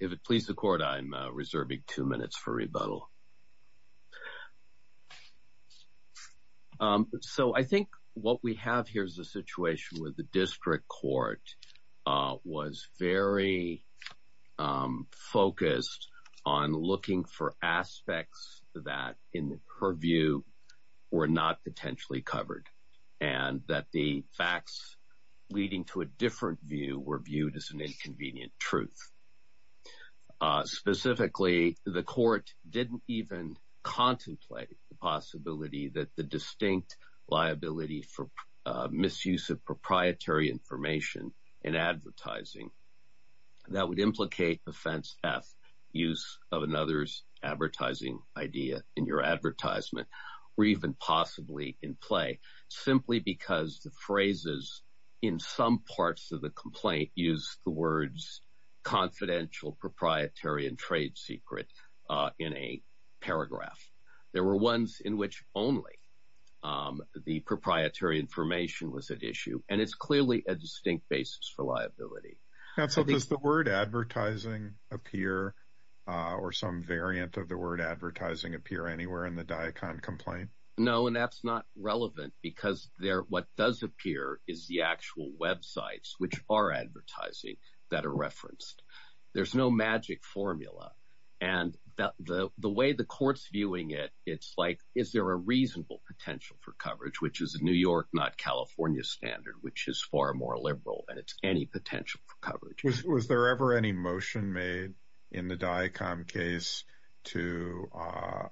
If it pleases the Court, I am reserving two minutes for rebuttal. So I think what we have here is a situation where the District Court was very focused on looking for aspects that, in her view, were not potentially covered and that the facts leading to a different view were viewed as an inconvenient truth. Specifically, the Court didn't even contemplate the possibility that the distinct liability for misuse of another's advertising idea in your advertisement were even possibly in play, simply because the phrases in some parts of the complaint used the words, confidential, proprietary, and trade secret in a paragraph. There were ones in which only the proprietary information was at issue, and it's clearly a distinct basis for liability. So does the word advertising appear, or some variant of the word advertising appear anywhere in the DICON complaint? No, and that's not relevant because what does appear is the actual websites which are advertising that are referenced. There's no magic formula, and the way the Court's viewing it, it's like, is there a reasonable potential for coverage, which is a New York, not California, standard, which is far more liberal, and it's any potential for coverage. Was there ever any motion made in the DICON case to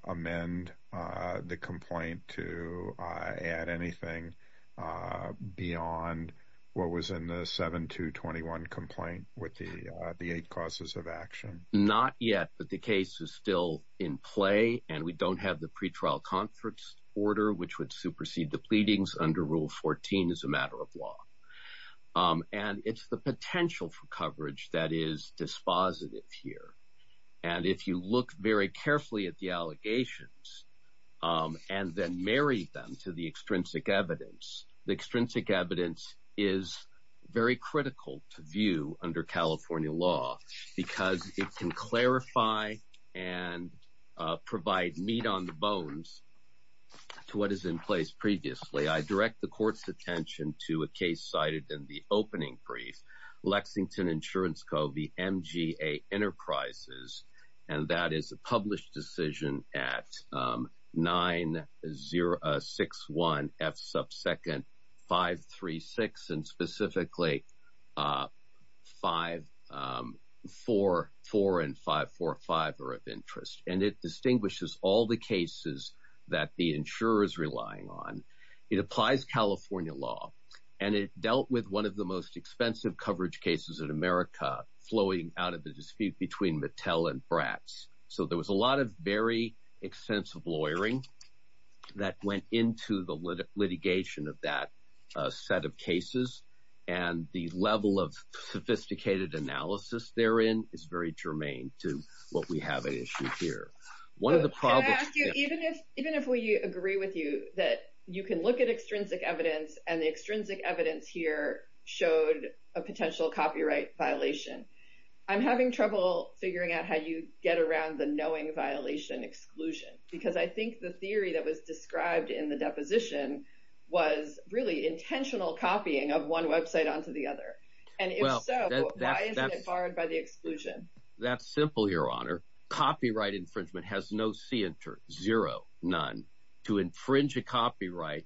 amend the complaint to add anything beyond what was in the 7221 complaint with the eight causes of action? Not yet, but the case is still in play, and we don't have the pretrial conference order which would supersede the pleadings under Rule 14 as a matter of law. And it's the potential for coverage that is dispositive here, and if you look very carefully at the allegations, and then marry them to the extrinsic evidence, the extrinsic evidence is very critical to view under California law because it can clarify and provide meat on the bones to a case that is not covered by the statute. So, to summarize what is in place previously, I direct the Court's attention to a case cited in the opening brief, Lexington Insurance Co., the MGA Enterprises, and that is a published decision at 9061 F subsecond 536, and specifically 544 and 545 are of interest, and it distinguishes all the cases that the insurer is relying on. It applies California law, and it dealt with one of the most expensive coverage cases in America flowing out of the dispute between Mattel and Bratz. So, there was a lot of very extensive lawyering that went into the litigation of that set of cases, and the level of sophisticated analysis therein is very germane to what we have at issue here. Can I ask you, even if we agree with you that you can look at extrinsic evidence and the extrinsic evidence here showed a potential copyright violation, I'm having trouble figuring out how you get around the knowing violation exclusion because I think the theory that was described in the deposition was really intentional copying of one website onto the other, and if so, why isn't it barred by the exclusion? That's simple, Your Honor. Copyright infringement has no c inter, zero, none. To infringe a copyright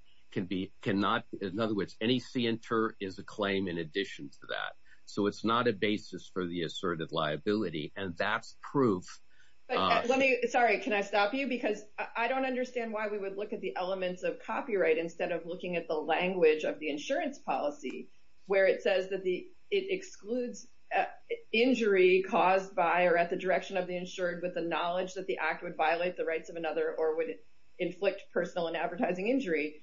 cannot, in other words, any c inter is a claim in addition to that. So, it's not a basis for the asserted liability, and that's proof. Sorry, can I stop you? Because I don't understand why we would look at the elements of copyright instead of looking at the language of the insurance policy where it says that it excludes injury caused by or at the direction of the insured with the knowledge that the act would violate the rights of another or would inflict personal and advertising injury.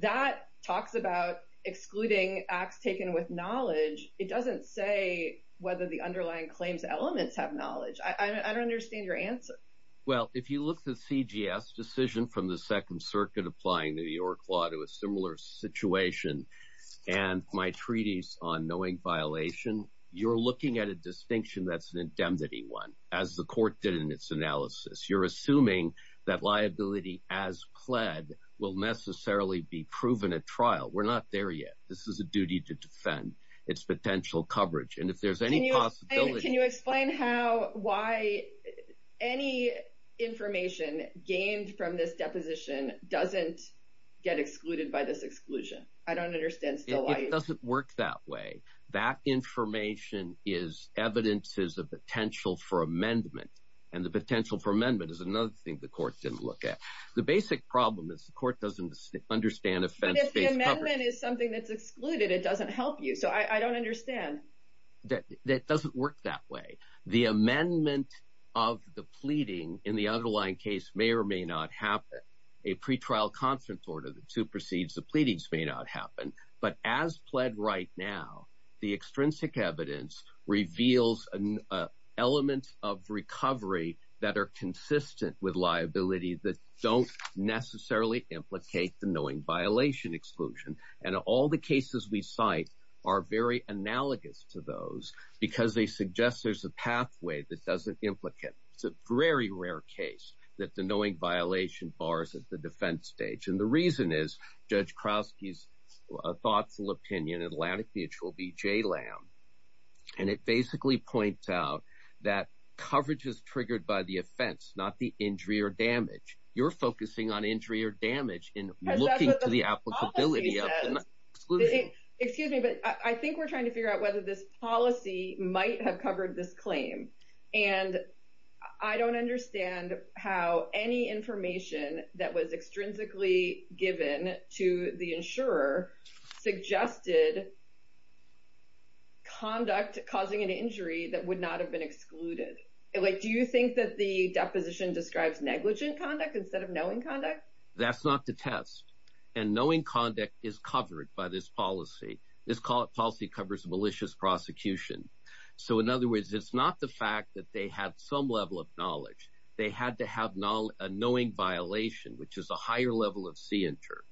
That talks about excluding acts taken with knowledge. It doesn't say whether the underlying claims elements have knowledge. I don't understand your answer. Well, if you look at the CGS decision from the Second Circuit applying the New York law to a similar situation and my treaties on knowing violation, you're looking at a distinction that's an indemnity one, as the court did in its analysis. You're assuming that liability as pled will necessarily be proven at trial. We're not there yet. This is a duty to defend its potential coverage, and if there's any possibility Can you explain how, why any information gained from this deposition doesn't get excluded by this exclusion? I don't understand. It doesn't work that way. That information is evidence is a potential for amendment, and the potential for amendment is another thing the court didn't look at. The basic problem is the court doesn't understand offense-based coverage. But if the amendment is something that's excluded, it doesn't help you, so I don't understand. That doesn't work that way. The amendment of the pleading in the underlying case may or may not happen. A pretrial constant order that supersedes the pleadings may not happen, but as pled right now, the extrinsic evidence reveals an element of recovery that are consistent with liability that don't necessarily implicate the knowing violation exclusion, and all the cases we cite are very analogous to those because they suggest there's a pathway that doesn't implicate. It's a very rare case that the knowing violation bars at the defense stage, and the reason is Judge Kraski's thoughtful opinion, Atlantic Mutual v. JLAM, and it basically points out that coverage is triggered by the offense, not the injury or damage. You're excuse me, but I think we're trying to figure out whether this policy might have covered this claim, and I don't understand how any information that was extrinsically given to the insurer suggested conduct causing an injury that would not have been excluded. Do you think that the deposition describes negligent conduct instead of knowing conduct? That's not to test, and knowing conduct is covered by this policy. This policy covers malicious prosecution. So in other words, it's not the fact that they had some level of knowledge. They had to have a knowing violation, which is a higher level of C-inter.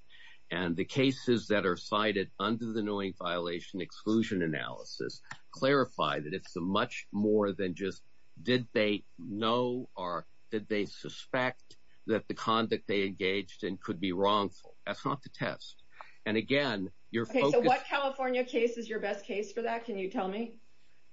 And the cases that are cited under the knowing violation exclusion analysis clarify that it's a much more than just did they know or did they suspect that the conduct they engaged in could be wrongful. That's not to test. And again, you're focused on what California case is your best case for that. Can you tell me?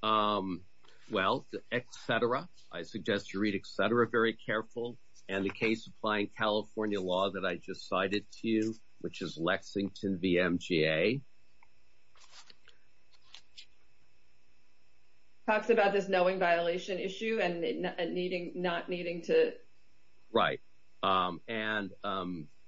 Well, the etc. I suggest you read etc. very careful, and the case applying California law that I just cited to you, which is Lexington v. MGA. Talks about this knowing violation issue and needing not needing to write and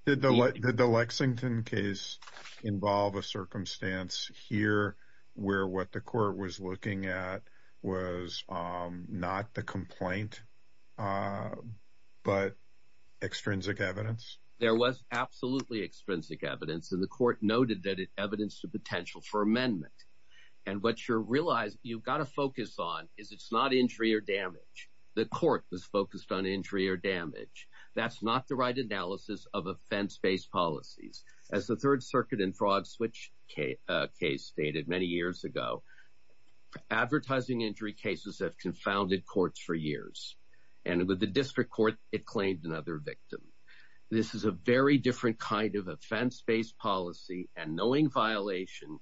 did the let the Lexington case involve a circumstance here where what the court was looking at was not the complaint, but extrinsic evidence. There was absolutely extrinsic evidence in the court noted that it evidenced the potential for amendment. And what you're realizing you've got to focus on is it's not injury or damage. The court was focused on injury or damage. That's not the right analysis of offense based policies. As the Third Circuit and fraud switch case stated many years ago, advertising injury cases have confounded courts for years. And with the district court, it claimed another victim. This is a very different kind of offense based policy and knowing violation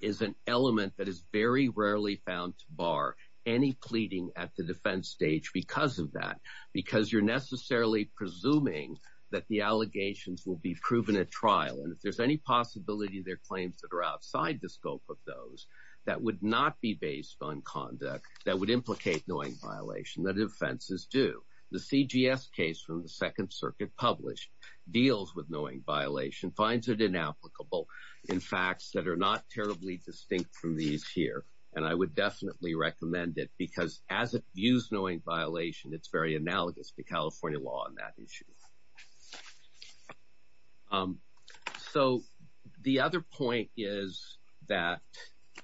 is an element that is very rarely found to bar any pleading at the defense stage because of that, because you're necessarily presuming that the allegations will be proven at trial. And if any possibility their claims that are outside the scope of those that would not be based on conduct that would implicate knowing violation that offenses do. The CGS case from the Second Circuit published deals with knowing violation, finds it inapplicable in facts that are not terribly distinct from these here. And I would definitely recommend it because as it views knowing violation, it's very analogous to California law on that issue. So the other point is that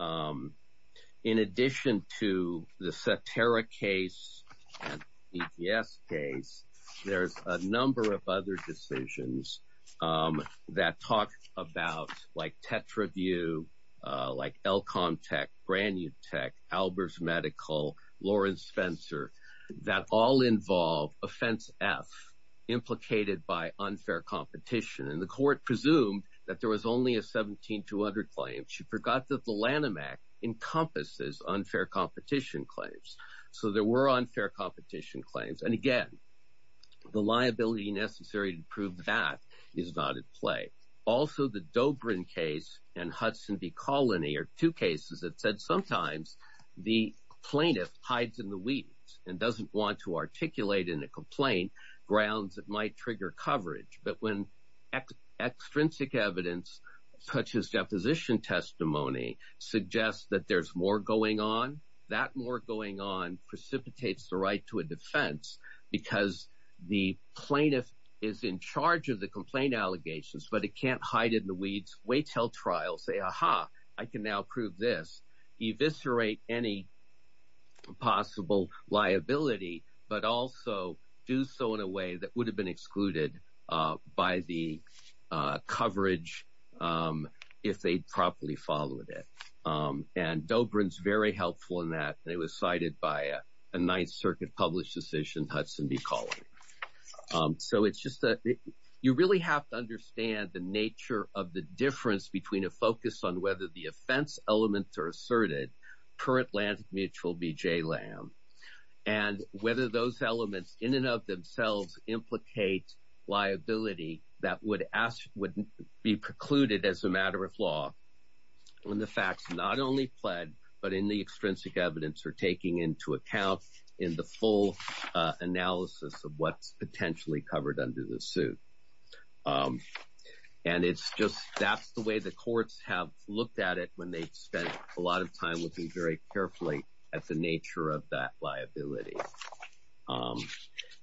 in addition to the Saterra case and EPS case, there's a number of other decisions that talk about like Tetraview, like Elcontec, Brannutec, Albers Medical, Lawrence Spencer, that all involve offense F implicated by unfair competition. And the court presumed that there was only a 17-200 claim. She forgot that the Lanham Act encompasses unfair competition claims. So there were unfair competition claims. And again, the liability necessary to prove that is not at play. Also the Dobrin case and Hudson v. Colony are two cases that said sometimes the plaintiff hides in the weeds and doesn't want to articulate in a complaint grounds that might trigger coverage. But when extrinsic evidence such as deposition testimony suggests that there's more going on, that more going on precipitates the right to a defense because the plaintiff is in charge of the complaint allegations, but it can't hide in weeds, wait till trial, say, aha, I can now prove this, eviscerate any possible liability, but also do so in a way that would have been excluded by the coverage if they'd properly followed it. And Dobrin's very helpful in that. It was cited by a Ninth Circuit published decision, Hudson v. Colony. So it's just that you really have to understand the nature of the difference between a focus on whether the offense elements are asserted per Atlantic Mutual v. J. Lanham, and whether those elements in and of themselves implicate liability that would be precluded as a matter of law when the facts not only pled, but in the extrinsic evidence are taking into account in the full analysis of what's potentially covered under the suit. And it's just that's the way the courts have looked at it when they've spent a lot of time looking very carefully at the nature of that liability.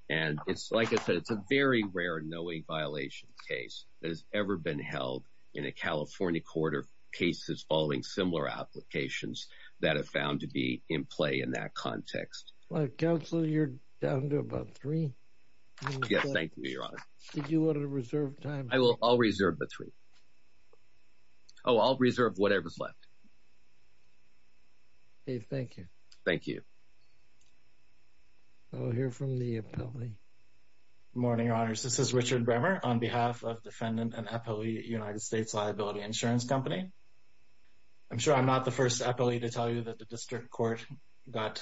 And it's like I said, it's a very rare knowing violation case that has ever been held in a California court of cases following similar applications that have found to be in play in that context. Well, Counselor, you're down to about three. Yes, thank you, Your Honor. Did you want to reserve time? I will. I'll reserve the three. Oh, I'll reserve whatever's left. Okay, thank you. Thank you. I'll hear from the appellee. Morning, Your Honors. This is Richard Bremer on behalf of Defendant and Appellee United States Liability Insurance Company. I'm sure I'm not the first appellee to tell you that the district court got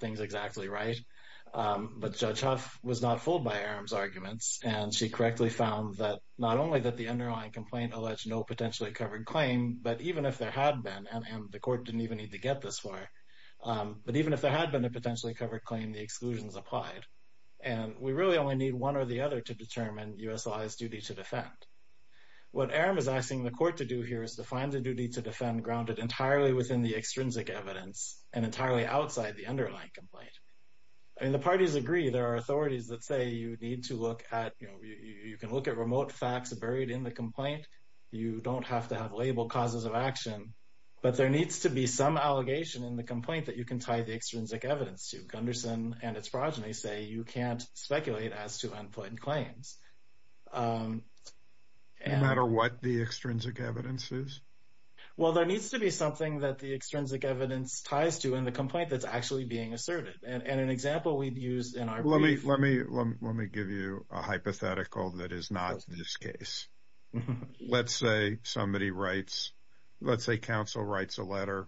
things exactly right, but Judge Huff was not fooled by Aram's arguments. And she correctly found that not only that the underlying complaint alleged no potentially covered claim, but even if there had been, and the court didn't even need to get this far, but even if there had been a potentially covered claim, the exclusions applied. And we really only need one or the other to determine USI's duty to defend. What Aram is asking the court to do here is to find the duty to defend grounded entirely within the extrinsic evidence and entirely outside the underlying complaint. And the parties agree there are authorities that say you need to look at, you know, you can look at remote facts buried in the complaint. You don't have to have label causes of action, but there needs to be some allegation in the complaint that you can tie the extrinsic evidence to. Gunderson and its progeny say you can't speculate as to unpleasant claims. No matter what the extrinsic evidence is? Well, there needs to be something that the extrinsic evidence ties to in the complaint that's actually being asserted. And an example we've used in our brief... Let me give you a hypothetical that is not this case. Let's say somebody writes, let's say counsel writes a letter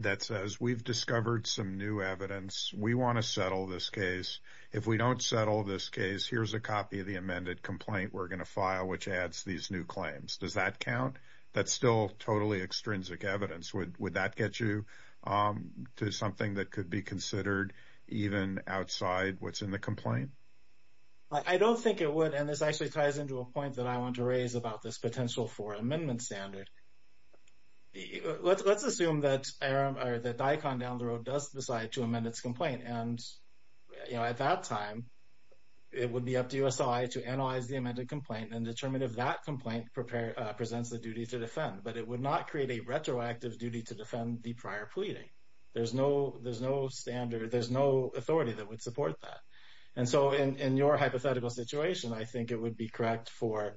that says, we've discovered some new evidence. We want to settle this case. If we don't settle this case, here's a copy of the amended complaint we're going to file, which adds these new claims. Does that count? That's still totally extrinsic evidence. Would that get you to something that could be considered even outside what's in the complaint? I don't think it would. And this actually ties into a point that I want to raise about this potential for amendment standard. Let's assume that DICON down the road does decide to amend its complaint. And at that time, it would be up to USI to analyze the amended complaint and determine if that complaint presents the duty to defend. But it would not create a retroactive duty to defend the prior pleading. There's no standard, there's no authority that would support that. And so in your hypothetical situation, I think it would be correct for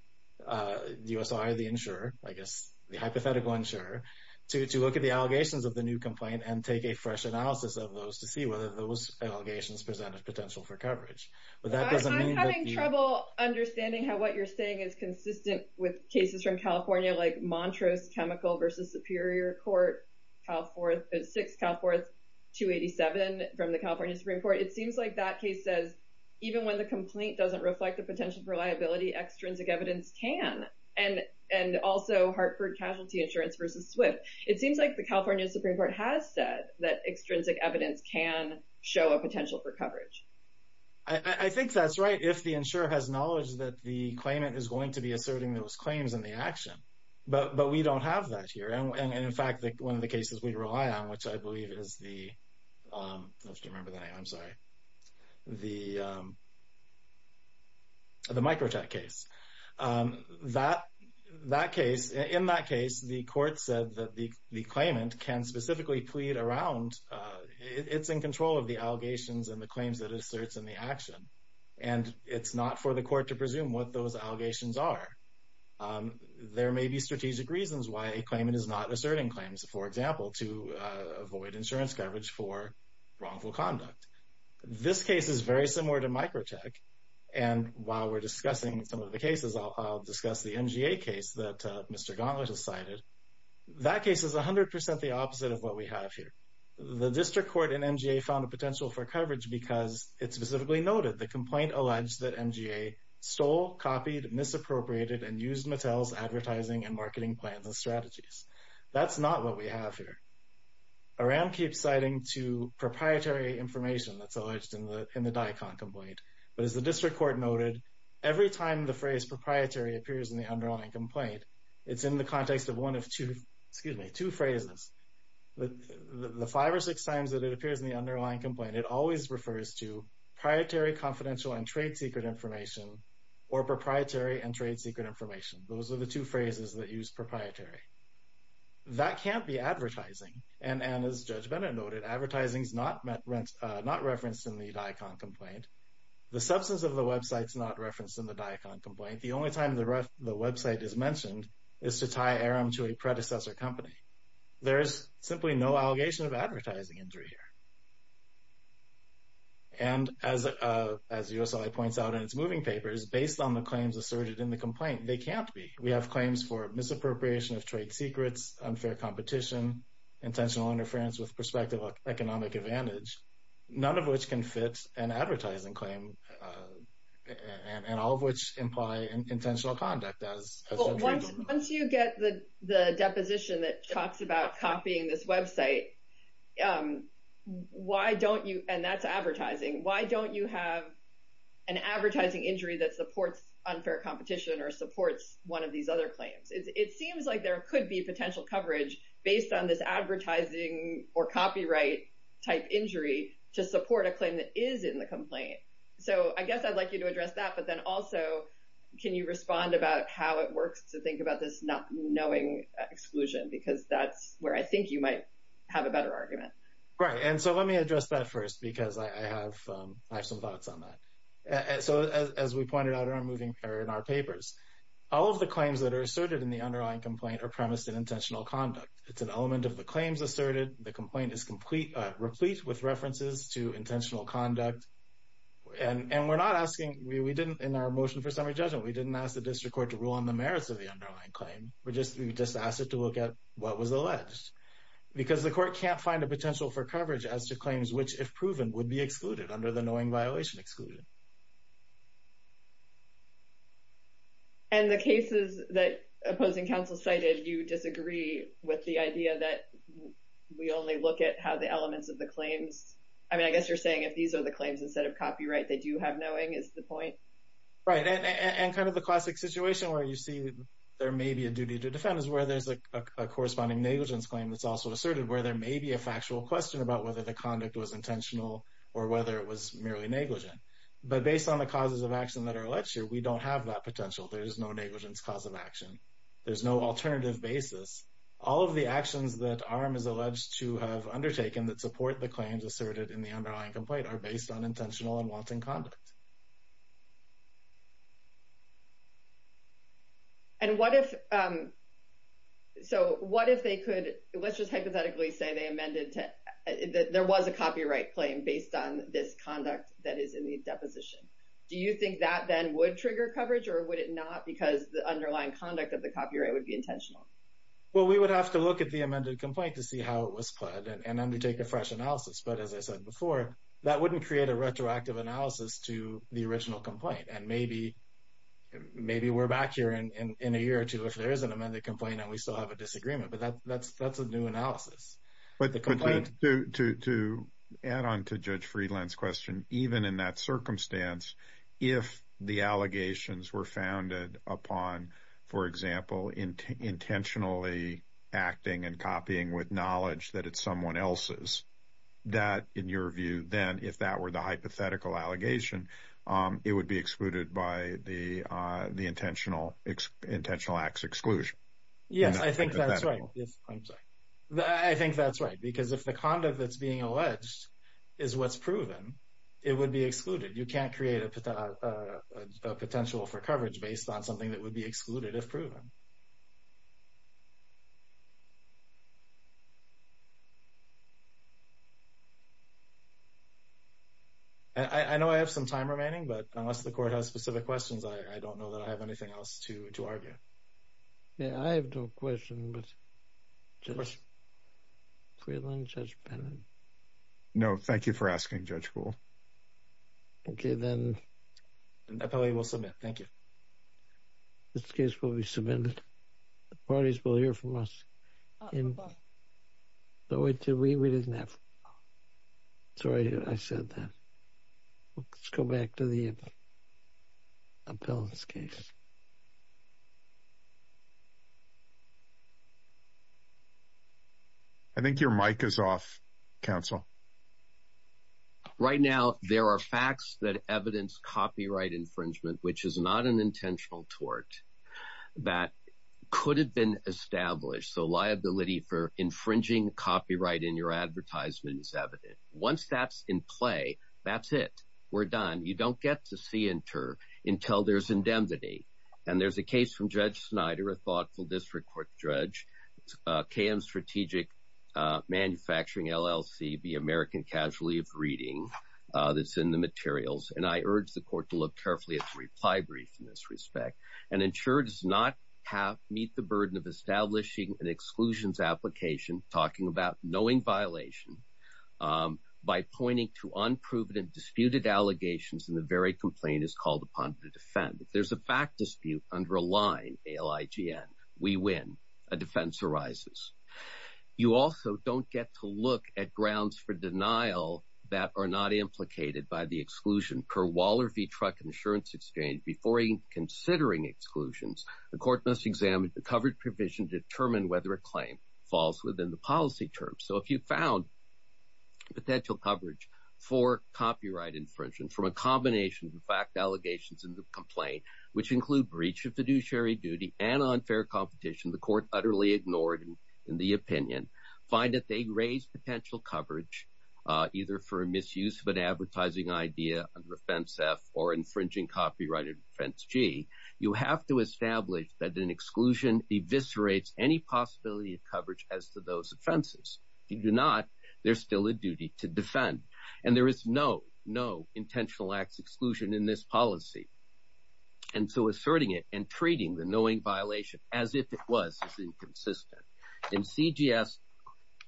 USI, the insurer, I guess the hypothetical insurer to look at the allegations of the new complaint and take a fresh analysis of those to see whether those allegations present a potential for coverage. But that doesn't mean I'm having trouble understanding how what you're saying is consistent with cases from California, like Montrose Chemical versus Superior Court, Cal 4th, 6th Cal 4th, 287 from the California Supreme Court. It seems like that case says even when the complaint doesn't reflect the potential for liability, extrinsic evidence can. And also Hartford Casualty Insurance versus Swift. It seems like the California Supreme Court has said that extrinsic evidence can show a potential for coverage. I think that's right. If the insurer has knowledge that the claimant is going to be asserting those claims in the action. But we don't have that here. And in fact, one of the cases we rely on, which I believe is the, I have to remember the name, I'm sorry, the Microtek case. That case, in that case, the court said that the claimant can specifically plead around, it's in control of the allegations and the claims that it asserts in the action. And it's not for the court to presume what those allegations are. There may be strategic reasons why a claimant is not asserting claims, for example, to avoid insurance coverage for wrongful conduct. This case is very similar to Microtek. And while we're discussing some of the cases, I'll discuss the MGA case that Mr. Gauntlet has cited. That case is 100% the opposite of what we have here. The district court and MGA found a potential for coverage because it specifically noted the complaint alleged that MGA stole, copied, misappropriated, and used Mattel's advertising and marketing plans and strategies. That's not what we have here. Aram keeps citing to proprietary information that's alleged in the DICON complaint. But as the district court noted, every time the phrase proprietary appears in the underlying complaint, it's in the context of one of two, excuse me, two phrases. The five or six times that it appears in the underlying complaint, it always refers to proprietary confidential and trade secret information or proprietary and trade secret information. Those are the two phrases that use proprietary. That can't be advertising. And as Judge Bennett noted, advertising is not referenced in the DICON complaint. The substance of the website is not referenced in the DICON complaint. The only time the website is mentioned is to tie Aram to a predecessor company. There is simply no allegation of advertising injury here. And as USLA points out in its moving papers, based on the claims asserted in the complaint, they can't be. We have claims for misappropriation of trade secrets, unfair competition, intentional interference with perspective of economic advantage, none of which can fit an advertising claim, and all of which imply intentional conduct. Once you get the deposition that talks about copying this website, why don't you, and that's advertising, why don't you have an advertising injury that supports unfair competition or supports one of these other claims? It seems like there could be potential coverage based on this advertising or copyright type injury to support a claim that is in the complaint. So I guess I'd like you to address that, but then also can you respond about how it works to think about this not knowing exclusion, because that's where I think you might have a better argument. Right. And so let me address that first, because I have some thoughts on that. So as we pointed out in our papers, all of the claims that are asserted in the underlying complaint are premised in intentional conduct. It's an element of the claims asserted. The complaint is complete, replete with references to intentional conduct, and we're not asking, we didn't in our motion for summary judgment, we didn't ask the district court to rule on the merits of the underlying claim. We just asked it to look at what was alleged, because the court can't find a potential for coverage as to claims which, if proven, would be excluded under the knowing violation exclusion. And the cases that opposing counsel cited, you disagree with the idea that we only look at how elements of the claims. I mean, I guess you're saying if these are the claims instead of copyright, they do have knowing is the point. Right. And kind of the classic situation where you see there may be a duty to defend is where there's a corresponding negligence claim that's also asserted where there may be a factual question about whether the conduct was intentional or whether it was merely negligent. But based on the causes of action that are alleged here, we don't have that potential. There is no negligence cause of action. There's no alternative basis. All of the actions that arm is alleged to have undertaken that support the claims asserted in the underlying complaint are based on intentional and wanting conduct. And what if so what if they could let's just hypothetically say they amended to there was a copyright claim based on this conduct that is in the deposition? Do you think that then would trigger coverage or would it not? Because the underlying conduct of the copyright would be intentional. Well, we would have to look at the amended complaint to see how it was and undertake a fresh analysis. But as I said before, that wouldn't create a retroactive analysis to the original complaint. And maybe maybe we're back here in a year or two if there is an amended complaint and we still have a disagreement. But that's that's a new analysis. But the complaint to add on to Judge Friedland's question, even in that circumstance, if the allegations were founded upon, for example, intentionally acting and copying with knowledge that it's someone else's, that in your view, then if that were the hypothetical allegation, it would be excluded by the the intentional intentional acts exclusion. Yes, I think that's right. I'm sorry. I think that's right. Because if the conduct that's being alleged is what's proven, it would be excluded. You can't create a potential for coverage based on something that would be excluded if proven. I know I have some time remaining, but unless the court has specific questions, I don't know that I have anything else to argue. Yeah, I have no question, but I have a question. No, thank you for asking, Judge Gould. Okay, then we'll submit. Thank you. This case will be submitted. The parties will hear from us. But wait, we didn't have. Sorry, I said that. Let's go back to the appellant's case. I think your mic is off, counsel. Right now, there are facts that evidence copyright infringement, which is not an intentional tort that could have been established. So liability for infringing copyright in your advertisement is evident. Once that's in play, that's it. We're done. You don't get to see inter until there's indemnity. And there's a case from Judge Snyder, a thoughtful district court judge, KM Strategic Manufacturing LLC v. American Casualty of Reading that's in the materials. And I urge the court to look carefully at the reply brief in this respect and ensure it does not meet the burden of establishing an exclusions application, talking about knowing violation by pointing to unproven and disputed allegations in the is called upon to defend. If there's a fact dispute under a line, ALIGN, we win. A defense arises. You also don't get to look at grounds for denial that are not implicated by the exclusion. Per Waller v. Truck Insurance Exchange, before even considering exclusions, the court must examine the covered provision to determine whether a claim falls within the policy terms. So if you found potential coverage for copyright infringement from a combination of the fact allegations in the complaint, which include breach of fiduciary duty and unfair competition, the court utterly ignored in the opinion, find that they raise potential coverage either for a misuse of an advertising idea under Offense F or infringing copyright in Offense G, you have to establish that an exclusion eviscerates any possibility of coverage as to those offenses. If you do not, there's still a duty to defend. And there is no, no intentional acts exclusion in this policy. And so asserting it and treating the knowing violation as if it was inconsistent. In CGS,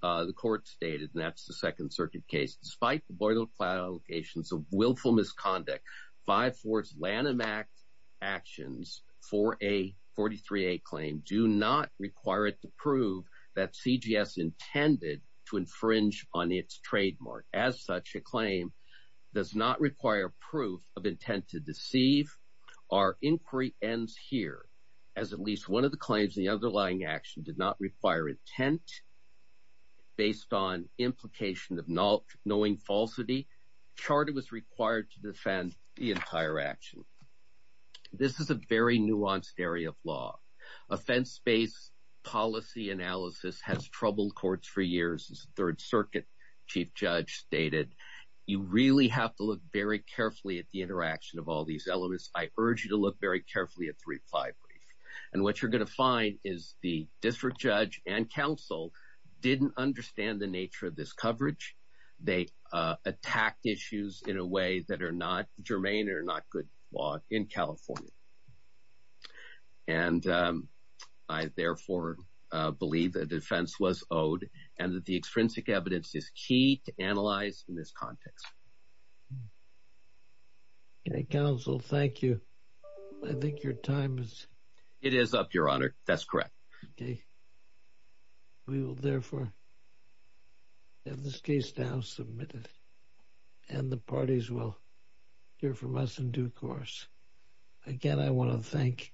the court stated, and that's the Second Circuit case, despite the boilerplate allegations of willful misconduct, 5-4's Lanham Act actions for a 43-A claim do not require it to prove that CGS intended to infringe on its trademark. As such, a claim does not require proof of intent to deceive. Our inquiry ends here, as at least one of the claims in the underlying action did not require intent based on implication of not knowing falsity. Charter was required to defend the entire action. This is a very nuanced area of law. Offense-based policy analysis has troubled courts for years, as Third Circuit Chief Judge stated, you really have to look very carefully at the interaction of all these elements. I urge you to look very carefully at the reply brief. And what you're going to find is the district judge and counsel didn't understand the nature of this coverage. They attacked issues in a way that are not germane or not good law in California. And I therefore believe that defense was owed and that the extrinsic evidence is key to analyze in this context. Okay, counsel, thank you. I think your time is... It is up, your honor. That's correct. Okay. We will therefore have this case now submitted and the parties will hear from us in due course. Again, I want to thank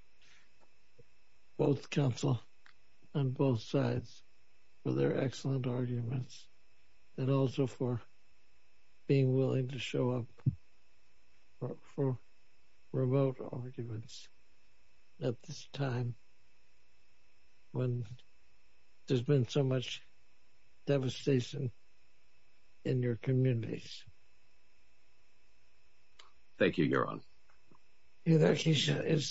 both counsel on both sides for their excellent arguments and also for being willing to show up for remote arguments at this time when there's been so much devastation in your communities. Thank you, your honor. Your next case is submitted.